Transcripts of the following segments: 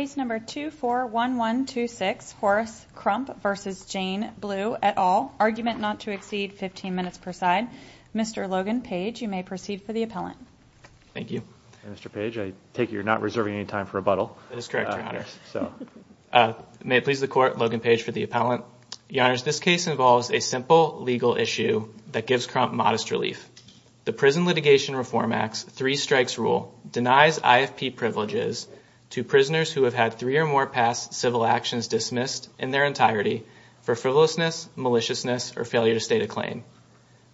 Case No. 241126, Horace Crump v. Jane Blue, et al., argument not to exceed 15 minutes per side. Mr. Logan Page, you may proceed for the appellant. Thank you. Mr. Page, I take it you're not reserving any time for rebuttal? May it please the Court, Logan Page for the appellant. Your Honors, this case involves a simple legal issue that gives Crump modest relief. The Prison Litigation Reform Act's three-strikes rule denies IFP privileges to prisoners who have had three or more past civil actions dismissed in their entirety for frivolousness, maliciousness, or failure to state a claim.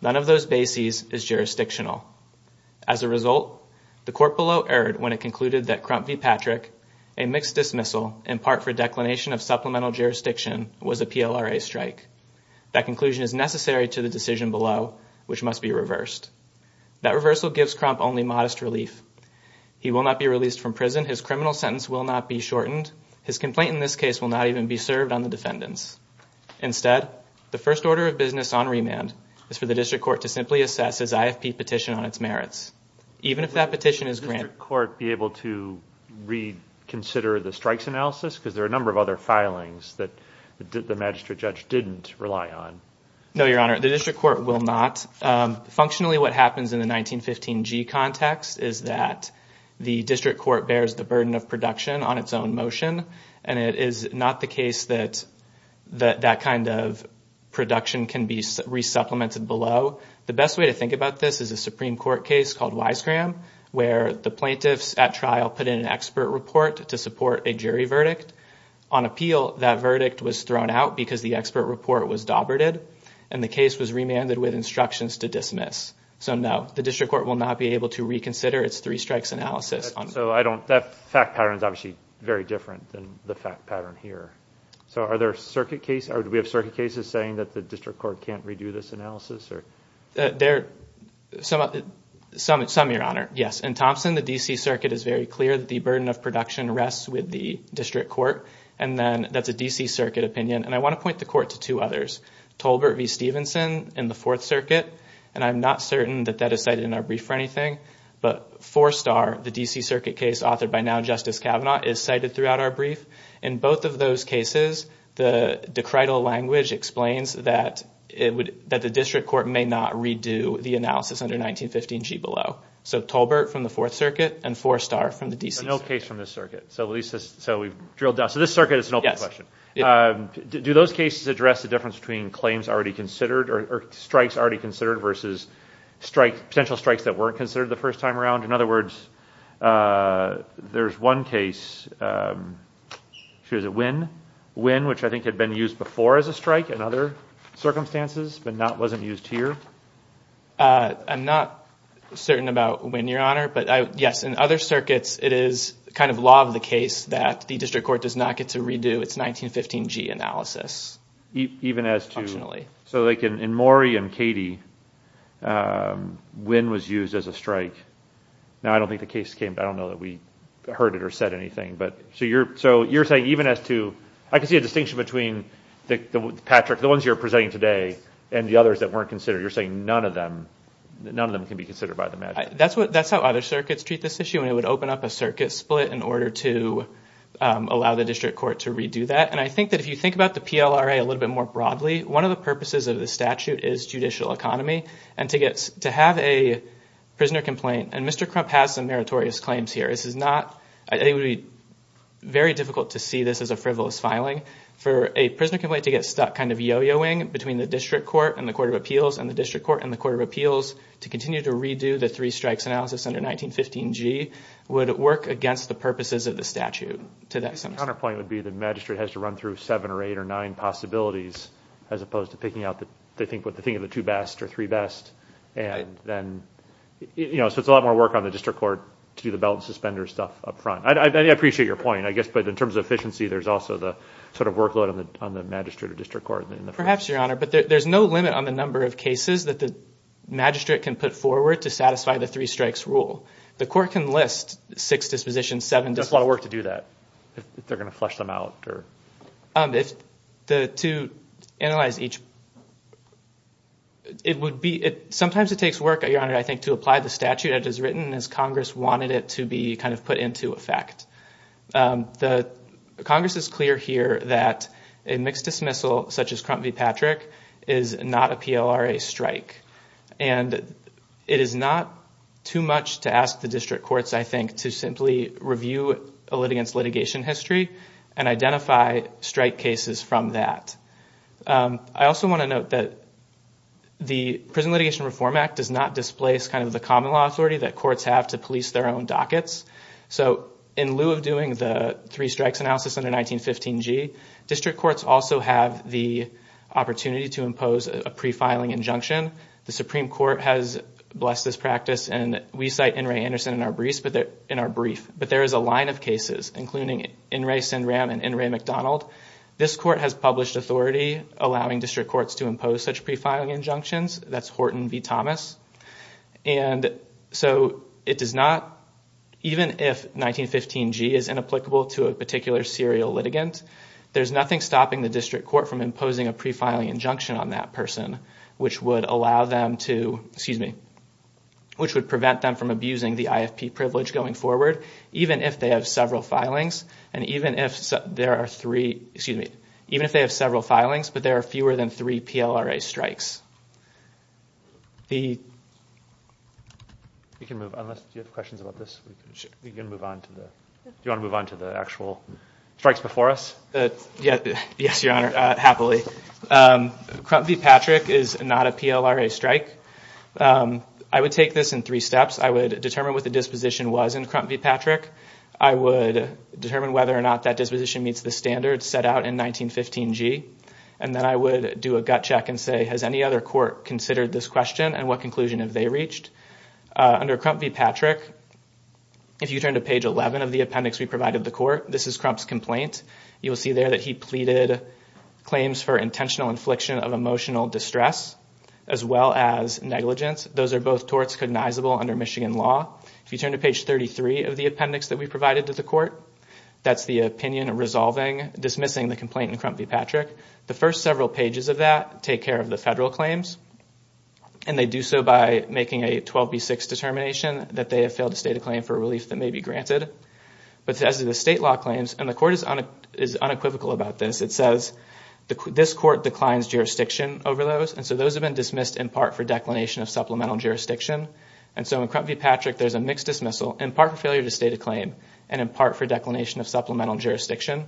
None of those bases is jurisdictional. As a result, the Court below erred when it concluded that Crump v. Patrick, a mixed dismissal in part for declination of supplemental jurisdiction, was a PLRA strike. That conclusion is necessary to the decision below, which must be reversed. That reversal gives Crump only modest relief. He will not be released from prison. His criminal sentence will not be shortened. His complaint in this case will not even be served on the defendants. Instead, the first order of business on remand is for the District Court to simply assess his IFP petition on its merits. Even if that petition is granted... Would the District Court be able to reconsider the strikes analysis? Because there are a number of other filings that the Magistrate Judge didn't rely on. No, Your Honor, the District Court will not. Functionally, what happens in the 1915G context is that the District Court bears the burden of production on its own motion, and it is not the case that that kind of production can be resupplemented below. The best way to think about this is a Supreme Court case called Wisegram, where the plaintiffs at trial put in an expert report to support a jury verdict. On appeal, that verdict was thrown out because the expert report was doberted, and the case was remanded with instructions to dismiss. So no, the District Court will not be able to reconsider its three strikes analysis. So I don't... That fact pattern is obviously very different than the fact pattern here. So are there circuit cases... Do we have circuit cases saying that the District Court can't redo this analysis, or... There... Some, Your Honor. Yes. In Thompson, the D.C. Circuit is very clear that the burden of production rests with the District Court, and then that's a D.C. Circuit opinion, and I want to point the Court to two others. Tolbert v. Stevenson in the Fourth Circuit, and I'm not certain that that is cited in our brief or anything, but Four Star, the D.C. Circuit case authored by now Justice Kavanaugh, is cited throughout our brief. In both of those cases, the decrital language explains that it would... That the District Court may not redo the analysis under 1915 G. Below. So Tolbert from the Fourth Circuit, and Four Star from the D.C. Circuit. So no case from this circuit. So at least this... So we've drilled down... So this circuit is an open question. Do those cases address the difference between claims already considered, or strikes already considered versus potential strikes that weren't considered the first time around? In other words, there's one case, is it Wynne? Wynne, which I think had been used before as a strike in other circumstances, but wasn't used here? I'm not certain about Wynne, Your Honor, but yes, in other circuits, it is kind of law of the case that the District Court does not get to redo. It's 1915 G analysis. Even as to... So like in Maury and Katie, Wynne was used as a strike. Now I don't think the case came... I don't know that we heard it or said anything, but... So you're saying even as to... I can see a distinction between Patrick, the ones you're presenting today, and the others that weren't considered. You're saying none of them... None of them can be considered by the magistrate. That's how other circuits treat this issue, and it would open up a circuit split in order to allow the District Court to redo that. And I think that if you think about the PLRA a little bit more broadly, one of the purposes of the statute is judicial economy, and to have a prisoner complaint, and Mr. Crump has some meritorious claims here. This is not... I think it would be very difficult to see this as a frivolous filing. For a prisoner complaint to get stuck kind of yo-yoing between the District Court and the Court of Appeals, and the District Court and the Court of Appeals, to continue to redo the three-strikes analysis under 1915G, would work against the purposes of the statute, to that extent. Your point would be the magistrate has to run through seven or eight or nine possibilities, as opposed to picking out the... They think of the two best or three best, and then, you know, so it's a lot more work on the District Court to do the belt and suspender stuff up front. I appreciate your point, I guess, but in terms of efficiency, there's also the sort of workload on the magistrate or District Court in the... Perhaps, Your Honor, but there's no limit on the number of cases that the magistrate can put forward to satisfy the three-strikes rule. The court can list six dispositions, seven dispositions... That's a lot of work to do that, if they're going to flush them out, or... To analyze each... It would be... Sometimes it takes work, Your Honor, I think, to apply the statute as it's written, as Congress wanted it to be kind of put into effect. The Congress is clear here that a mixed dismissal, such as Crump v. Patrick, is not a PLRA strike, and it is not too much to ask the District Courts, I think, to simply review a litigant's litigation history and identify strike cases from that. I also want to note that the Prison Litigation Reform Act does not displace kind of the common law authority that courts have to police their own dockets, so in lieu of doing the three-strikes analysis under 1915G, District Courts also have the opportunity to impose a pre-filing injunction. The Supreme Court has blessed this practice, and we cite N. Ray Anderson in our brief, but there is a line of cases, including N. Ray Sinram and N. Ray McDonald. This court has published authority allowing District Courts to impose such pre-filing injunctions. That's Horton v. Thomas. Even if 1915G is inapplicable to a particular serial litigant, there's nothing stopping the District Court from imposing a pre-filing injunction on that person, which would prevent them from abusing the IFP privilege going forward, even if they have several filings but there are fewer than three PLRA strikes. Do you want to move on to the actual strikes before us? Yes, Your Honor, happily. Crump v. Patrick is not a PLRA strike. I would take this in three steps. I would determine what the disposition was in Crump v. Patrick. I would determine whether or not that disposition meets the standards set out in 1915G, and then I would do a gut check and say, has any other court considered this question and what conclusion have they reached? Under Crump v. Patrick, if you turn to page 11 of the appendix we provided the court, this is Crump's complaint. You will see there that he pleaded claims for intentional infliction of emotional distress as well as negligence. Those are both torts cognizable under Michigan law. If you turn to page 33 of the appendix that we provided to the court, that's the opinion resolving dismissing the complaint in Crump v. Patrick. The first several pages of that take care of the federal claims, and they do so by making a 12B6 determination that they have failed to state a claim for relief that may be granted. But as to the state law claims, and the court is unequivocal about this, it says this court declines jurisdiction over those, and so those have been dismissed in part for declination of supplemental jurisdiction. In Crump v. Patrick, there's a mixed dismissal, in part for failure to state a claim, and in part for declination of supplemental jurisdiction.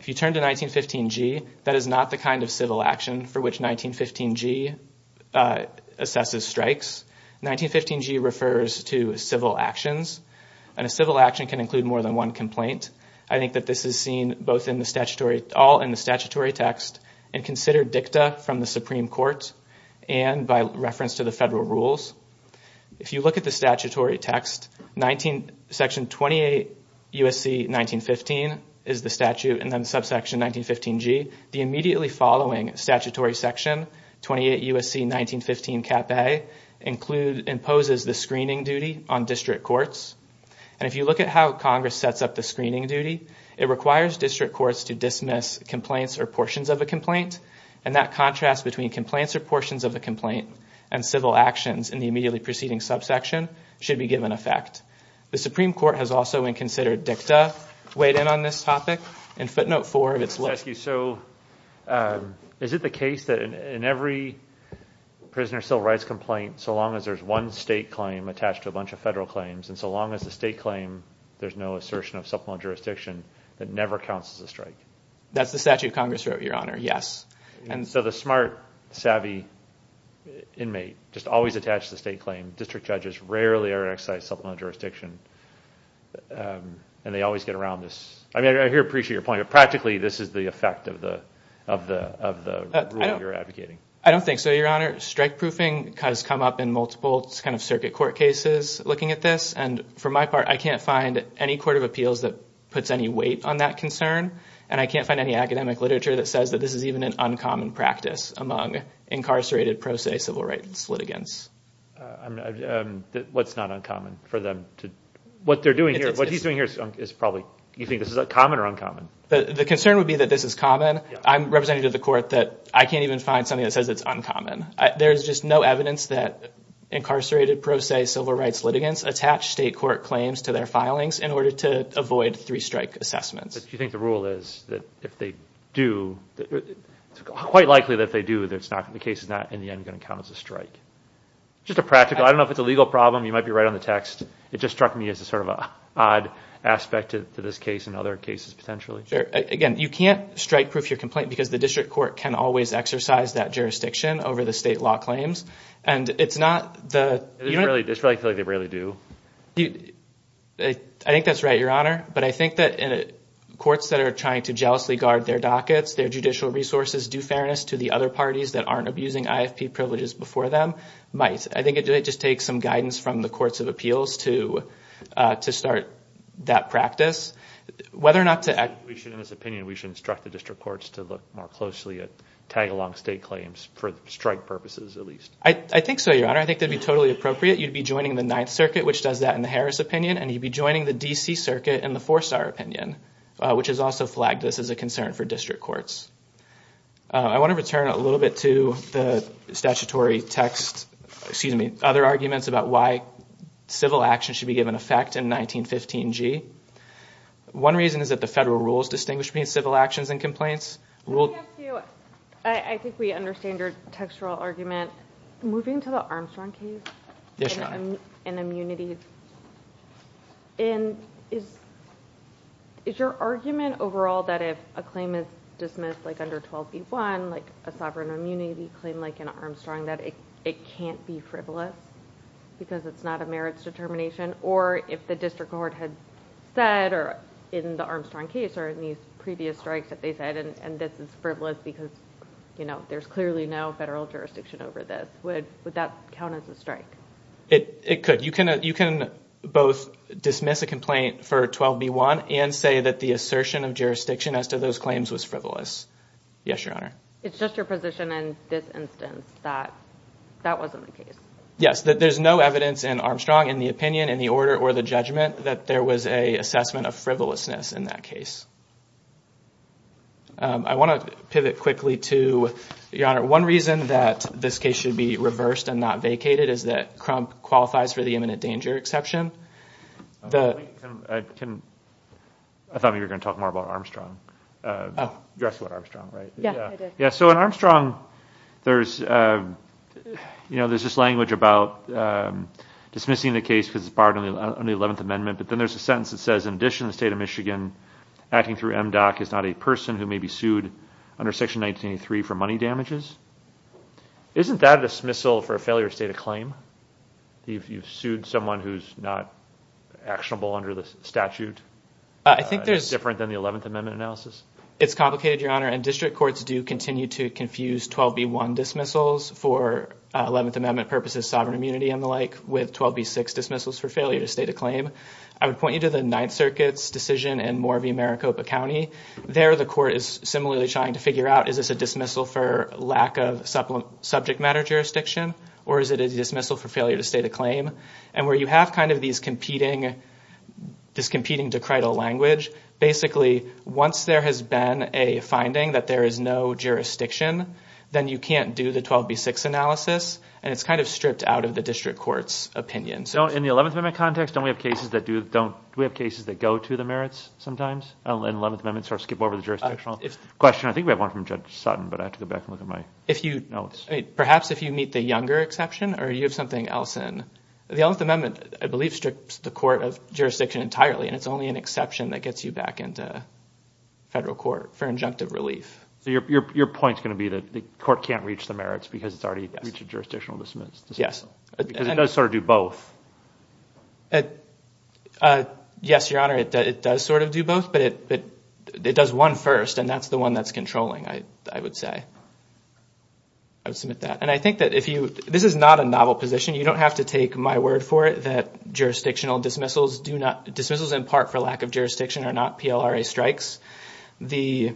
If you turn to 1915G, that is not the kind of civil action for which 1915G assesses strikes. 1915G refers to civil actions, and a civil action can include more than one complaint. I think that this is seen all in the statutory text and considered dicta from the Supreme Court and by reference to the federal rules. If you look at the statutory text, Section 28 U.S.C. 1915 is the statute, and then subsection 1915G, the immediately following statutory section, 28 U.S.C. 1915 Cap A, imposes the screening duty on district courts. If you look at how Congress sets up the screening duty, it requires district courts to dismiss complaints or portions of a complaint, and that contrast between complaints or portions of a complaint and civil actions in the immediately preceding subsection should be given effect. The Supreme Court has also, when considered dicta, weighed in on this topic. In footnote four of its list... Thank you. So is it the case that in every prisoner of civil rights complaint, so long as there's one state claim attached to a bunch of federal claims, and so long as the state claim, there's no assertion of supplemental jurisdiction, that never counts as a strike? That's the statute Congress wrote, Your Honor, yes. And so the smart, savvy inmate just always attached to the state claim, district judges rarely exercise supplemental jurisdiction, and they always get around this... I mean, I appreciate your point, but practically, this is the effect of the rule you're advocating. I don't think so, Your Honor. Strike proofing has come up in multiple kind of circuit court cases looking at this, and for my part, I can't find any court of appeals that puts any weight on that concern, and I can't find any academic literature that says that this is even an uncommon practice among incarcerated pro se civil rights litigants. What's not uncommon for them to... What they're doing here... What he's doing here is probably... Do you think this is common or uncommon? The concern would be that this is common. I'm representing to the court that I can't even find something that says it's uncommon. There's just no evidence that incarcerated pro se civil rights litigants attach state court claims to their filings in order to avoid three strike assessments. Do you think the rule is that if they do... Quite likely that if they do, the case is not, in the end, going to count as a strike? Just a practical... I don't know if it's a legal problem. You might be right on the text. It just struck me as a sort of odd aspect to this case and other cases, potentially. Sure. Again, you can't strike proof your complaint because the district court can always exercise that jurisdiction over the state law claims, and it's not the... It's really like they rarely do. I think that's right, Your Honor, but I think that courts that are trying to jealously guard their dockets, their judicial resources, due fairness to the other parties that aren't abusing IFP privileges before them might. I think it just takes some guidance from the courts of appeals to start that practice. Whether or not to... We should, in this opinion, we should instruct the district courts to look more closely at tag-along state claims for strike purposes, at least. I think so, Your Honor. I think that'd be totally appropriate. If you were in the 9th Circuit, you'd be joining the 9th Circuit, which does that in the Harris opinion, and you'd be joining the D.C. Circuit in the Forstar opinion, which has also flagged this as a concern for district courts. I want to return a little bit to the statutory text, excuse me, other arguments about why civil action should be given effect in 1915G. One reason is that the federal rules distinguish between civil actions and complaints. I think we understand your textual argument. Moving to the Armstrong case and immunity, is your argument overall that if a claim is dismissed under 12b.1, like a sovereign immunity claim like in Armstrong, that it can't be frivolous because it's not a merits determination, or if the district court had said in the Armstrong case or in these previous strikes that they said, and this is frivolous because there's clearly no federal jurisdiction over this, would that count as a strike? It could. You can both dismiss a complaint for 12b.1 and say that the assertion of jurisdiction as to those claims was frivolous. Yes, Your Honor. It's just your position in this instance that that wasn't the case. Yes, that there's no evidence in Armstrong, in the opinion, in the order, or the judgment that there was an assessment of frivolousness in that case. I want to pivot quickly to, Your Honor, one reason that this case should be reversed and not vacated is that Crump qualifies for the imminent danger exception. I thought we were going to talk more about Armstrong. You addressed it with Armstrong, right? Yeah, I did. Yeah, so in Armstrong, there's this language about dismissing the case because it's barred under the 11th Amendment, but then there's a sentence that says, in addition to the state of Michigan, acting through MDOC is not a person who may be sued under Section 1983 for money damages. Isn't that a dismissal for a failure to state a claim if you've sued someone who's not actionable under the statute, different than the 11th Amendment analysis? It's complicated, Your Honor, and district courts do continue to confuse 12b.1 dismissals for 11th Amendment purposes, sovereign immunity and the like, with 12b.6 dismissals for failure to state a claim. I would point you to the Ninth Circuit's decision in Moravie, Maricopa County. There the court is similarly trying to figure out, is this a dismissal for lack of subject matter jurisdiction, or is it a dismissal for failure to state a claim? And where you have kind of this competing decrital language, basically, once there has been a finding that there is no jurisdiction, then you can't do the 12b.6 analysis, and it's kind of stripped out of the district court's opinion. In the 11th Amendment context, don't we have cases that go to the merits sometimes, and 11th Amendment sort of skip over the jurisdictional? Question, I think we have one from Judge Sutton, but I have to go back and look at my notes. Perhaps if you meet the younger exception, or you have something else in. The 11th Amendment, I believe, strips the court of jurisdiction entirely, and it's only an exception that gets you back into federal court for injunctive relief. Your point's going to be that the court can't reach the merits because it's already reached a jurisdictional dismissal. Yes. Because it does sort of do both. Yes, Your Honor, it does sort of do both, but it does one first, and that's the one that's controlling, I would say. I would submit that. And I think that if you, this is not a novel position. You don't have to take my word for it that jurisdictional dismissals do not, dismissals in part for lack of jurisdiction are not PLRA strikes. The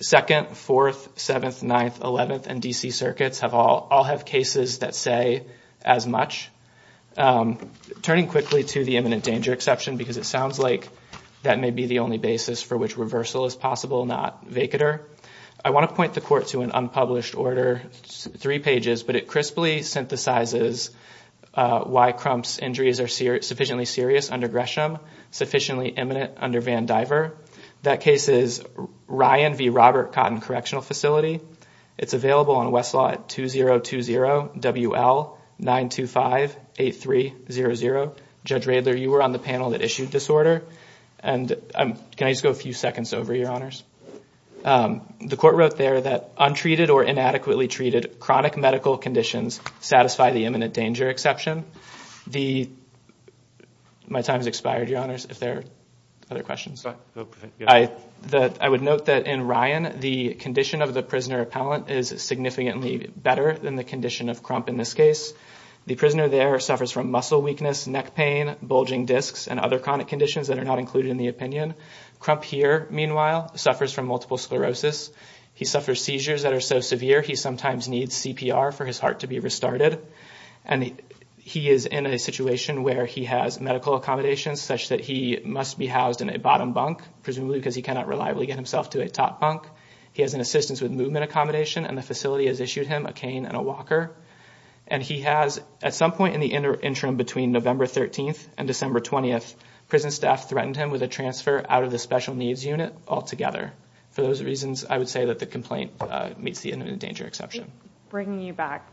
2nd, 4th, 7th, 9th, 11th, and D.C. circuits all have cases that say as much. Turning quickly to the imminent danger exception, because it sounds like that may be the only basis for which reversal is possible, not vacater, I want to point the court to an unpublished order, three pages, but it crisply synthesizes why Crump's injuries are sufficiently serious under Gresham, sufficiently imminent under Van Diver. That case is Ryan v. Robert Cotton Correctional Facility. It's available on Westlaw at 2020 WL-925-8300. Judge Radler, you were on the panel that issued this order, and can I just go a few seconds over, Your Honors? The court wrote there that untreated or inadequately treated chronic medical conditions satisfy the imminent danger exception. My time has expired, Your Honors, if there are other questions. I would note that in Ryan, the condition of the prisoner appellant is significantly better than the condition of Crump in this case. The prisoner there suffers from muscle weakness, neck pain, bulging discs, and other chronic conditions that are not included in the opinion. Crump here, meanwhile, suffers from multiple sclerosis. He suffers seizures that are so severe he sometimes needs CPR for his heart to be restarted. He is in a situation where he has medical accommodations such that he must be housed in a bottom bunk, presumably because he cannot reliably get himself to a top bunk. He has an assistance with movement accommodation, and the facility has issued him a cane and a walker. He has, at some point in the interim between November 13th and December 20th, prison staff threatened him with a transfer out of the special needs unit altogether. For those reasons, I would say that the complaint meets the imminent danger exception. Bringing you back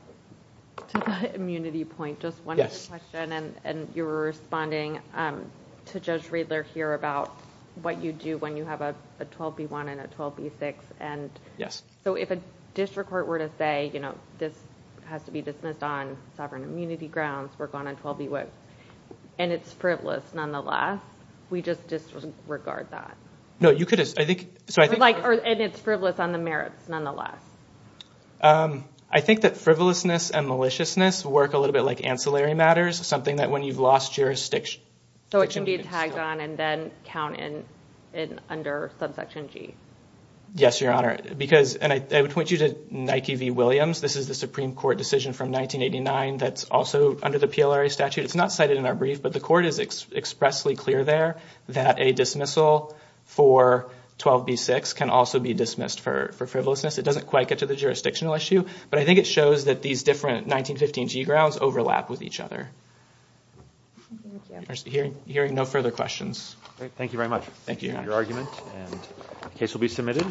to the immunity point, just one more question, and you were responding to Judge Riedler here about what you do when you have a 12b1 and a 12b6. So if a district court were to say, you know, this has to be dismissed on sovereign immunity grounds, we're going on 12b1, and it's frivolous nonetheless, we just disregard that? No, you could. I think... And it's frivolous on the merits, nonetheless. I think that frivolousness and maliciousness work a little bit like ancillary matters, something that when you've lost jurisdiction... So it can be tagged on and then count in under subsection G. Yes, Your Honor, because, and I would point you to Nike v. Williams. This is the Supreme Court decision from 1989 that's also under the PLRA statute. It's not cited in our brief, but the court is expressly clear there that a dismissal for 12b6 can also be dismissed for frivolousness. It doesn't quite get to the jurisdictional issue, but I think it shows that these different 1915 G grounds overlap with each other. Hearing no further questions. Thank you very much. Thank you, Your Honor. Thank you for your argument, and the case will be submitted.